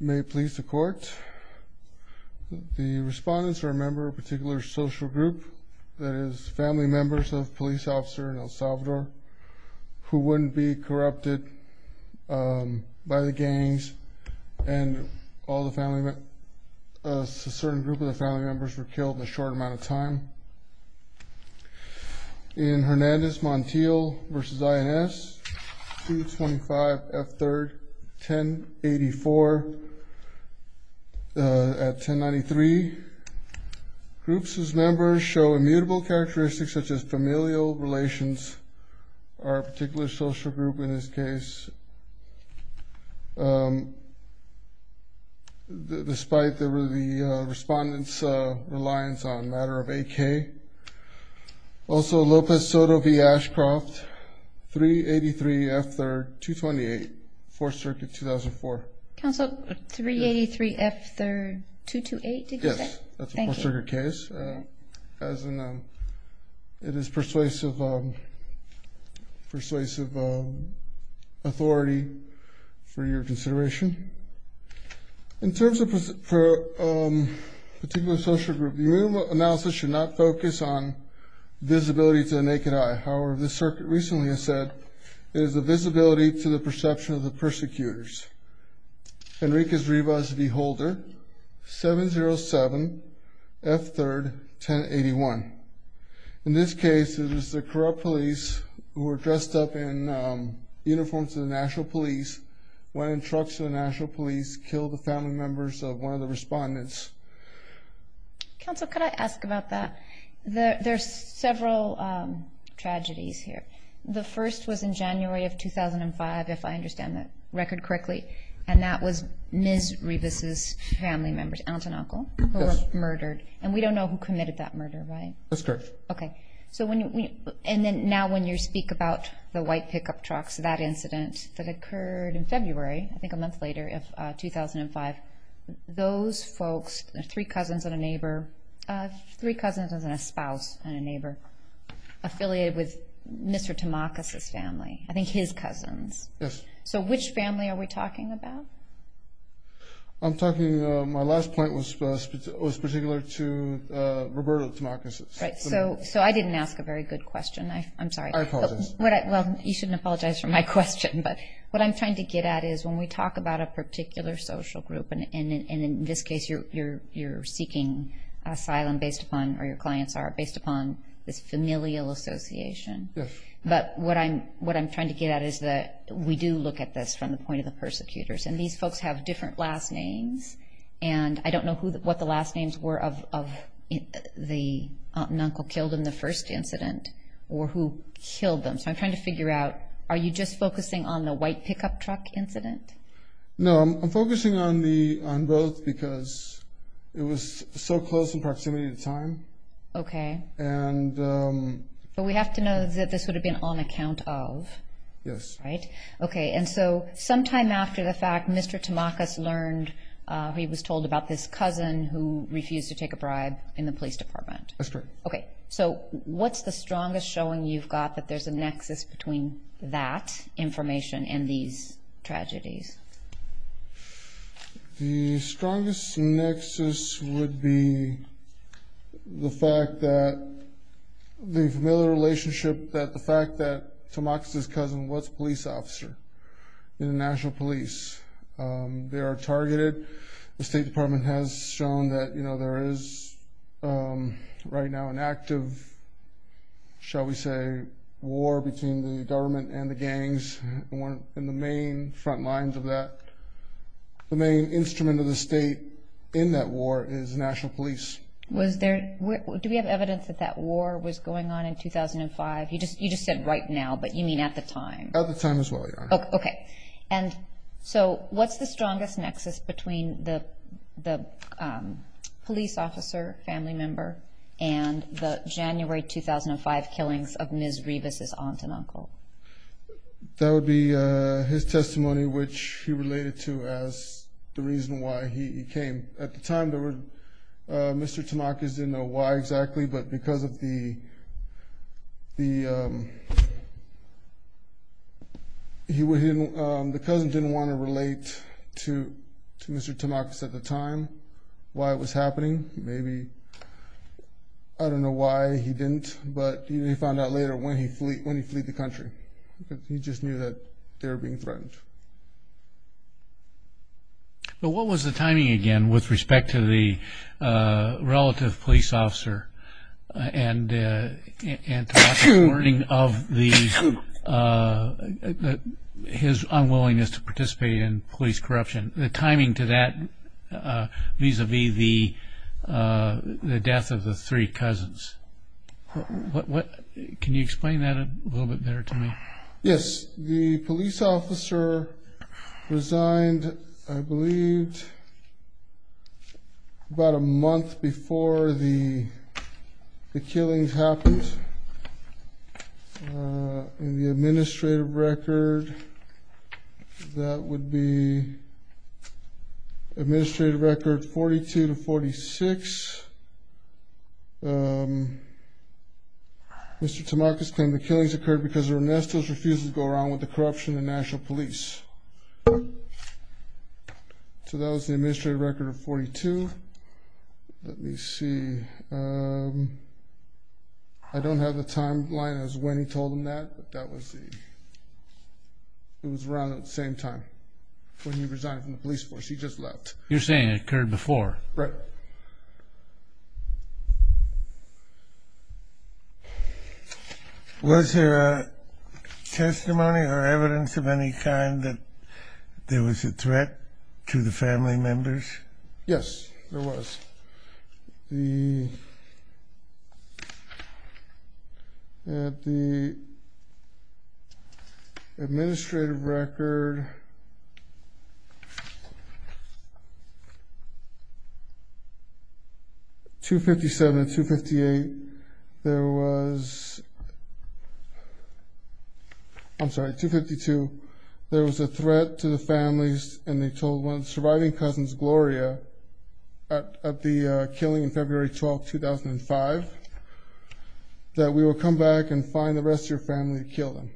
May it please the court, the respondents are a member of a particular social group that is family members of a police officer in El Salvador who wouldn't be corrupted by the gangs and a certain group of the family members were killed in a short amount of time. In Hernandez Montiel v. INS 225 F 3rd 1084 at 1093 groups whose members show immutable characteristics such as familial relations or a particular social group in this case. Despite the respondents' reliance on a matter of AK. Also Lopez Soto v. Ashcroft 383 F 3rd 228 4th Circuit 2004. Counsel 383 F 3rd 228 did you say? Yes, that's a 4th Circuit case. It is persuasive authority for your consideration. In terms of a particular social group, your analysis should not focus on visibility to the naked eye. However, the circuit recently has said it is a visibility to the perception of the persecutors. Enriquez Rivas v. Holder 707 F 3rd 1081. In this case, it was the corrupt police who were dressed up in uniforms of the National Police, went in trucks of the National Police, killed the family members of one of the respondents. Counsel, could I ask about that? There's several tragedies here. The first was in January of 2005, if I understand that record correctly. And that was Ms. Rivas' family members, aunt and uncle, who were murdered. And we don't know who committed that murder, right? That's correct. Okay. And now when you speak about the white pickup trucks, that incident that occurred in February, I think a month later of 2005. Those folks, three cousins and a neighbor, three cousins and a spouse and a neighbor, affiliated with Mr. Tamakis' family. I think his cousins. Yes. So which family are we talking about? I'm talking, my last point was particular to Roberto Tamakis. Right. So I didn't ask a very good question. I'm sorry. I apologize. Well, you shouldn't apologize for my question. But what I'm trying to get at is when we talk about a particular social group, and in this case you're seeking asylum based upon, or your clients are, based upon this familial association. Yes. But what I'm trying to get at is that we do look at this from the point of the persecutors. And these folks have different last names. And I don't know what the last names were of the aunt and uncle killed in the first incident or who killed them. So I'm trying to figure out, are you just focusing on the white pickup truck incident? No, I'm focusing on both because it was so close in proximity to time. Okay. And. But we have to know that this would have been on account of. Yes. Right. Okay. And so sometime after the fact, Mr. Tamakis learned he was told about this cousin who refused to take a bribe in the police department. That's correct. Okay. So what's the strongest showing you've got that there's a nexus between that information and these tragedies? The strongest nexus would be the fact that the familiar relationship, that the fact that Tamakis' cousin was a police officer in the National Police. They are targeted. The State Department has shown that, you know, there is right now an active, shall we say, war between the government and the gangs. And one of the main front lines of that, the main instrument of the state in that war is National Police. Was there, do we have evidence that that war was going on in 2005? You just said right now, but you mean at the time. At the time as well, Your Honor. Okay. And so what's the strongest nexus between the police officer, family member, and the January 2005 killings of Ms. Rivas' aunt and uncle? That would be his testimony, which he related to as the reason why he came. At the time, Mr. Tamakis didn't know why exactly, but because of the, the cousin didn't want to relate to Mr. Tamakis at the time why it was happening. Maybe, I don't know why he didn't, but he found out later when he fled the country. He just knew that they were being threatened. But what was the timing again with respect to the relative police officer and Tamakis' warning of his unwillingness to participate in police corruption? The timing to that vis-a-vis the death of the three cousins. Can you explain that a little bit better to me? Yes. The police officer resigned, I believe, about a month before the killings happened. In the administrative record, that would be administrative record 42 to 46, Mr. Tamakis claimed the killings occurred because Ernestos refused to go around with the corruption of the national police. So that was the administrative record of 42. Let me see. I don't have the timeline as to when he told them that, but that was the, it was around that same time when he resigned from the police force. He just left. You're saying it occurred before? Right. Okay. Was there testimony or evidence of any kind that there was a threat to the family members? Yes, there was. At the administrative record 257 and 258, there was, I'm sorry, 252, there was a threat to the families, and they told one of the surviving cousins, Gloria, at the killing in February 12, 2005, that we will come back and find the rest of your family to kill them.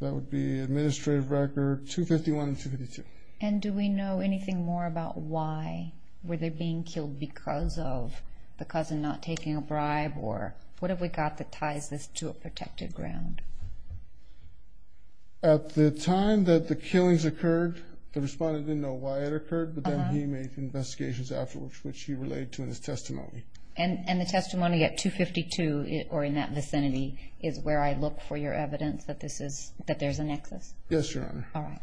That would be administrative record 251 and 252. And do we know anything more about why? Were they being killed because of the cousin not taking a bribe, or what have we got that ties this to a protected ground? At the time that the killings occurred, the respondent didn't know why it occurred, but then he made investigations afterwards, which he related to in his testimony. And the testimony at 252 or in that vicinity is where I look for your evidence that this is, that there's a nexus? Yes, Your Honor. All right.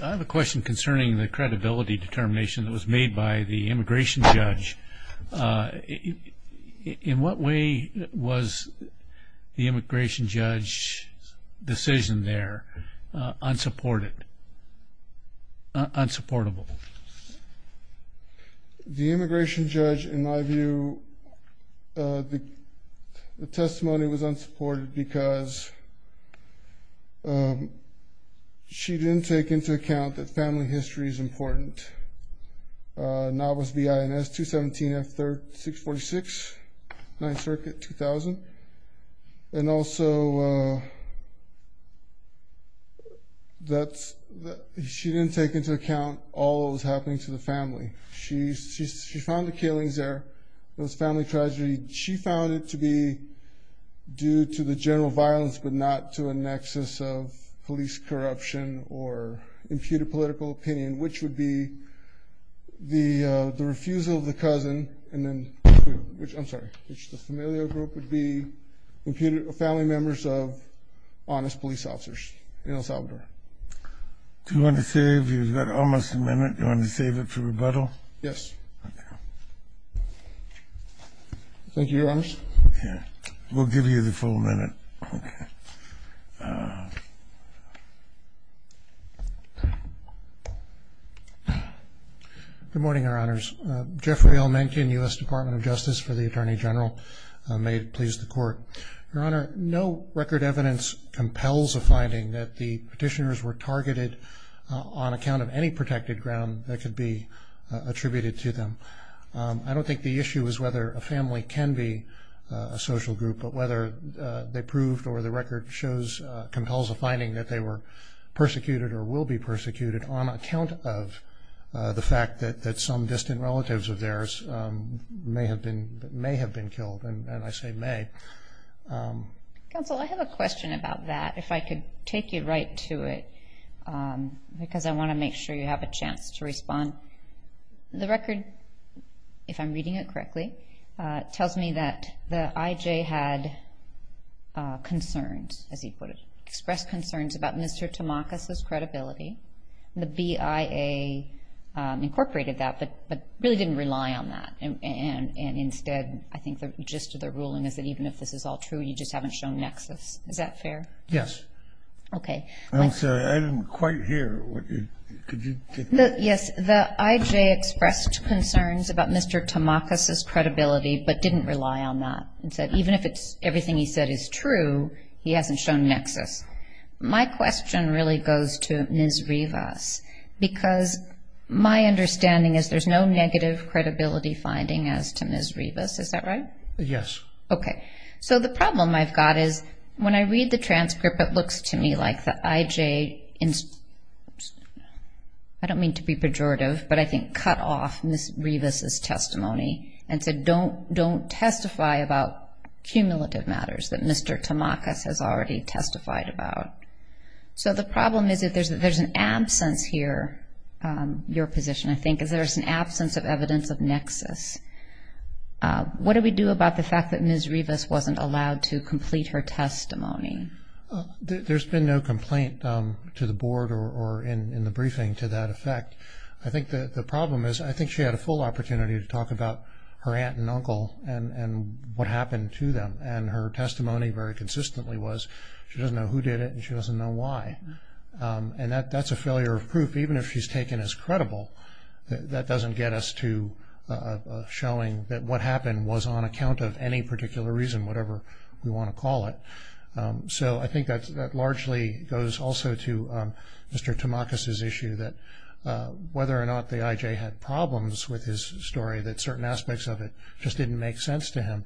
I have a question concerning the credibility determination that was made by the immigration judge. In what way was the immigration judge's decision there unsupported, unsupportable? The immigration judge, in my view, the testimony was unsupported because she didn't take into account that family history is important. Now it was BINS 217F646, 9th Circuit, 2000. And also, she didn't take into account all that was happening to the family. She found the killings there. It was a family tragedy. She found it to be due to the general violence, but not to a nexus of police corruption or imputed political opinion, which would be the refusal of the cousin and then, I'm sorry, which the familial group would be family members of honest police officers in El Salvador. Do you want to save? You've got almost a minute. Do you want to save it for rebuttal? Yes. Thank you, Your Honors. We'll give you the full minute. Good morning, Your Honors. Geoffrey Elmendian, U.S. Department of Justice for the Attorney General. May it please the Court. Your Honor, no record evidence compels a finding that the petitioners were targeted on account of any protected ground that could be attributed to them. I don't think the issue is whether a family can be a social group, but whether they proved or the record shows compels a finding that they were persecuted or will be persecuted on account of the fact that some distant relatives of theirs may have been killed, and I say may. Counsel, I have a question about that, if I could take you right to it, because I want to make sure you have a chance to respond. The record, if I'm reading it correctly, tells me that the IJ had concerns, as he put it, expressed concerns about Mr. Tamakis's credibility. The BIA incorporated that, but really didn't rely on that, and instead, I think the gist of the ruling is that even if this is all true, you just haven't shown nexus. Is that fair? Yes. Okay. I'm sorry, I didn't quite hear. Could you take that? Yes, the IJ expressed concerns about Mr. Tamakis's credibility, but didn't rely on that, and said even if everything he said is true, he hasn't shown nexus. My question really goes to Ms. Rivas, because my understanding is there's no negative credibility finding as to Ms. Rivas. Is that right? Yes. Okay. So the problem I've got is when I read the transcript, it looks to me like the IJ, I don't mean to be pejorative, but I think cut off Ms. Rivas' testimony and said don't testify about cumulative matters that Mr. Tamakis has already testified about. So the problem is that there's an absence here, your position, I think, What do we do about the fact that Ms. Rivas wasn't allowed to complete her testimony? There's been no complaint to the board or in the briefing to that effect. I think the problem is I think she had a full opportunity to talk about her aunt and uncle and what happened to them, and her testimony very consistently was she doesn't know who did it and she doesn't know why, and that's a failure of proof. Even if she's taken as credible, that doesn't get us to showing that what happened was on account of any particular reason, whatever we want to call it. So I think that largely goes also to Mr. Tamakis' issue that whether or not the IJ had problems with his story that certain aspects of it just didn't make sense to him.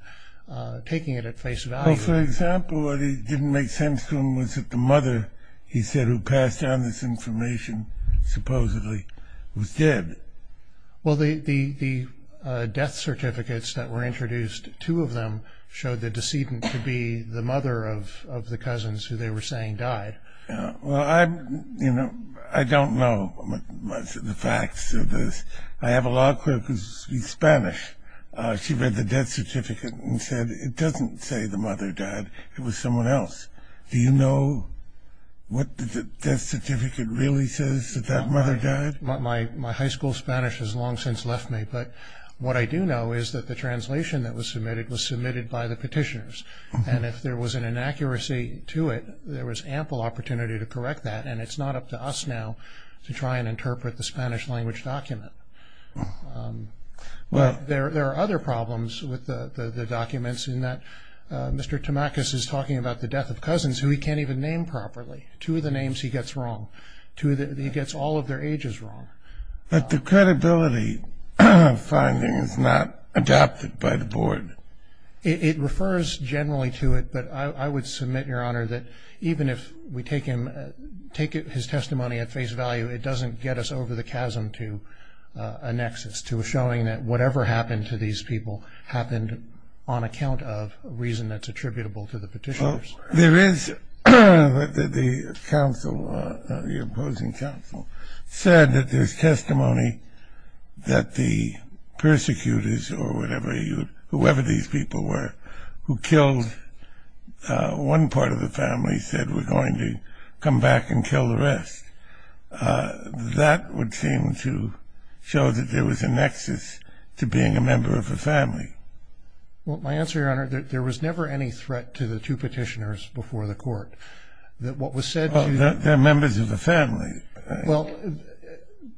Taking it at face value. Well, for example, what didn't make sense to him was that the mother, he said, who passed down this information supposedly was dead. Well, the death certificates that were introduced, two of them showed the decedent to be the mother of the cousins who they were saying died. Well, I don't know much of the facts of this. I have a law clerk who speaks Spanish. She read the death certificate and said it doesn't say the mother died. It was someone else. Do you know what the death certificate really says that that mother died? My high school Spanish has long since left me, but what I do know is that the translation that was submitted was submitted by the petitioners, and if there was an inaccuracy to it, there was ample opportunity to correct that, and it's not up to us now to try and interpret the Spanish language document. But there are other problems with the documents in that Mr. Tamakis is talking about the death of cousins who he can't even name properly. Two of the names he gets wrong. He gets all of their ages wrong. But the credibility finding is not adopted by the board. It refers generally to it, but I would submit, Your Honor, that even if we take his testimony at face value, it doesn't get us over the chasm to a nexus, to a showing that whatever happened to these people happened on account of a reason that's attributable to the petitioners. Well, there is the council, the opposing council, said that there's testimony that the persecutors or whatever, whoever these people were who killed one part of the family, said we're going to come back and kill the rest. That would seem to show that there was a nexus to being a member of a family. Well, my answer, Your Honor, there was never any threat to the two petitioners before the court. That what was said to you... They're members of the family. Well,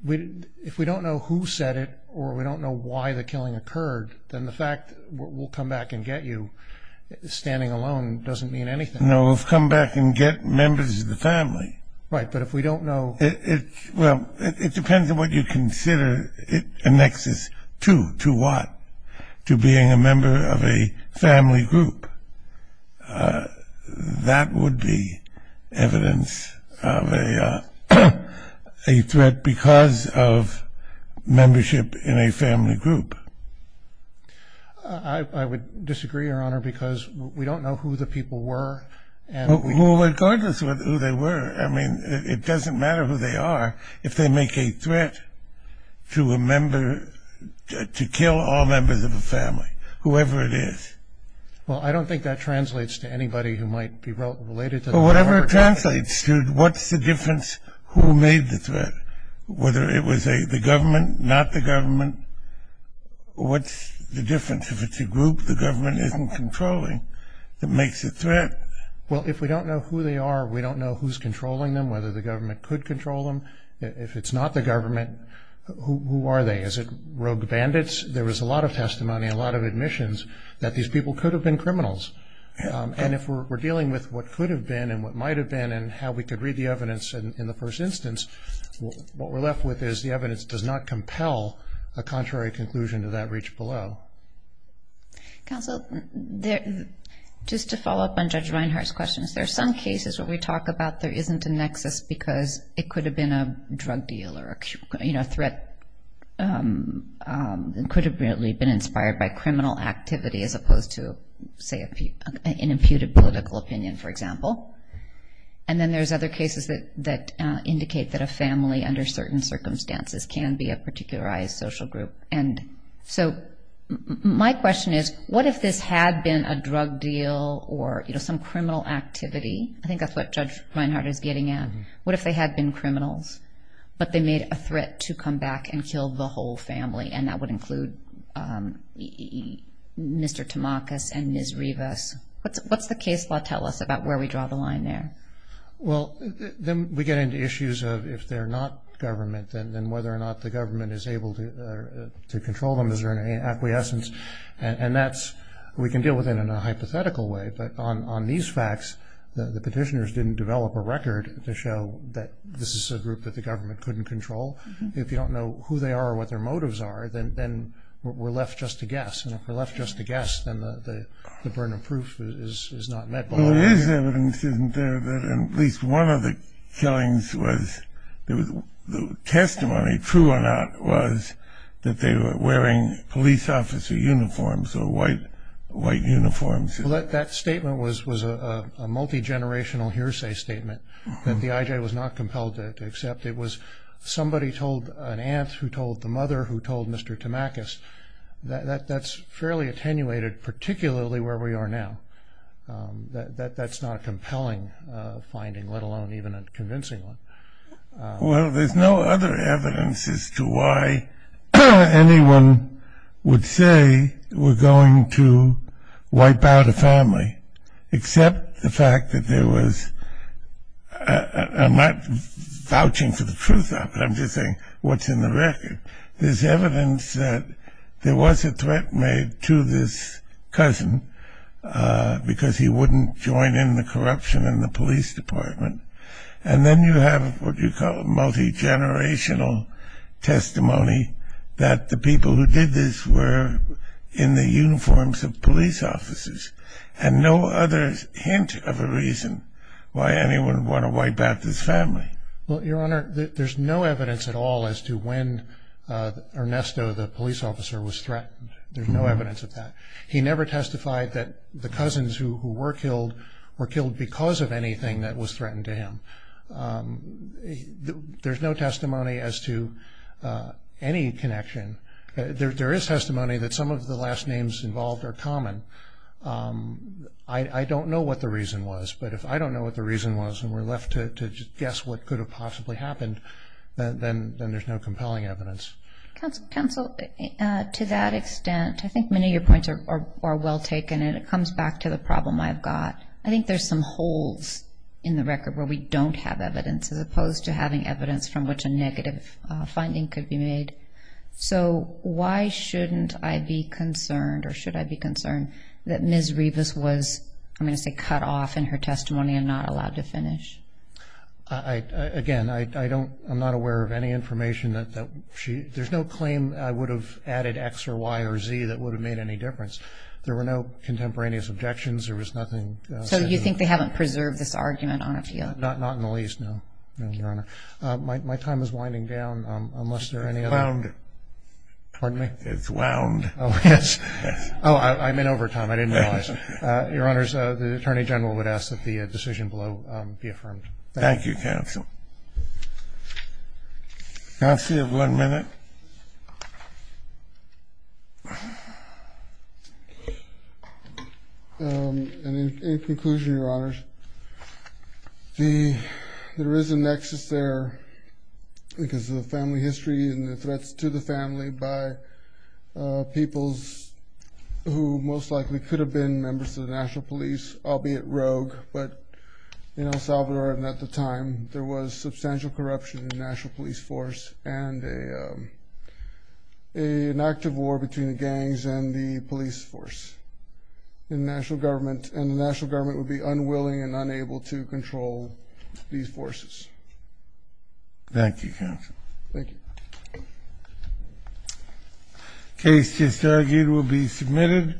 if we don't know who said it or we don't know why the killing occurred, then the fact we'll come back and get you standing alone doesn't mean anything. No, we'll come back and get members of the family. Right, but if we don't know... Well, it depends on what you consider a nexus to. To what? To being a member of a family group. That would be evidence of a threat because of membership in a family group. I would disagree, Your Honor, because we don't know who the people were. Well, regardless of who they were, I mean, it doesn't matter who they are. If they make a threat to a member, to kill all members of a family, whoever it is... Well, I don't think that translates to anybody who might be related to the member of a family. Well, whatever it translates to, what's the difference who made the threat, whether it was the government, not the government, what's the difference? If it's a group the government isn't controlling, it makes a threat. Well, if we don't know who they are, we don't know who's controlling them, whether the government could control them. If it's not the government, who are they? Is it rogue bandits? There was a lot of testimony, a lot of admissions that these people could have been criminals. And if we're dealing with what could have been and what might have been and how we could read the evidence in the first instance, what we're left with is the evidence does not compel a contrary conclusion to that reach below. Counsel, just to follow up on Judge Reinhart's questions, there are some cases where we talk about there isn't a nexus because it could have been a drug deal or a threat that could have really been inspired by criminal activity as opposed to, say, an imputed political opinion, for example. And then there's other cases that indicate that a family under certain circumstances can be a particularized social group. And so my question is, what if this had been a drug deal or some criminal activity? I think that's what Judge Reinhart is getting at. What if they had been criminals, but they made a threat to come back and kill the whole family, and that would include Mr. Tamakis and Ms. Rivas? What's the case law tell us about where we draw the line there? Well, then we get into issues of if they're not government, then whether or not the government is able to control them. Is there any acquiescence? And we can deal with it in a hypothetical way, but on these facts, the petitioners didn't develop a record to show that this is a group that the government couldn't control. If you don't know who they are or what their motives are, then we're left just to guess. And if we're left just to guess, then the burden of proof is not met. Well, there is evidence, isn't there, that at least one of the killings was the testimony, true or not, was that they were wearing police officer uniforms or white uniforms. Well, that statement was a multigenerational hearsay statement that the IJ was not compelled to accept. It was somebody told an aunt who told the mother who told Mr. Tamakis. That's fairly attenuated, particularly where we are now. That's not a compelling finding, let alone even a convincing one. Well, there's no other evidence as to why anyone would say we're going to wipe out a family, except the fact that there was, I'm not vouching for the truth of it, I'm just saying what's in the record. There's evidence that there was a threat made to this cousin because he wouldn't join in the corruption in the police department. And then you have what you call a multigenerational testimony that the people who did this were in the uniforms of police officers. And no other hint of a reason why anyone would want to wipe out this family. Well, Your Honor, there's no evidence at all as to when Ernesto, the police officer, was threatened. There's no evidence of that. He never testified that the cousins who were killed were killed because of anything that was threatened to him. There's no testimony as to any connection. There is testimony that some of the last names involved are common. I don't know what the reason was, but if I don't know what the reason was and we're left to guess what could have possibly happened, then there's no compelling evidence. Counsel, to that extent, I think many of your points are well taken, and it comes back to the problem I've got. I think there's some holes in the record where we don't have evidence, as opposed to having evidence from which a negative finding could be made. So why shouldn't I be concerned, or should I be concerned, that Ms. Rivas was, I'm going to say, cut off in her testimony and not allowed to finish? Again, I'm not aware of any information that she – there's no claim I would have added X or Y or Z that would have made any difference. There were no contemporaneous objections. There was nothing – So you think they haven't preserved this argument on a field? Not in the least, no, Your Honor. My time is winding down, unless there are any other – It's wound. Pardon me? It's wound. Oh, yes. Oh, I'm in overtime. I didn't realize. Your Honors, the Attorney General would ask that the decision below be affirmed. Thank you. Thank you, Counsel. Counsel, you have one minute. And in conclusion, Your Honors, there is a nexus there because of the family history and the threats to the family by peoples who most likely could have been members of the National Police, albeit rogue, but in El Salvador and at the time, there was substantial corruption in the National Police Force and an active war between the gangs and the police force in the national government, and the national government would be unwilling and unable to control these forces. Thank you, Counsel. Thank you. The case just argued will be submitted.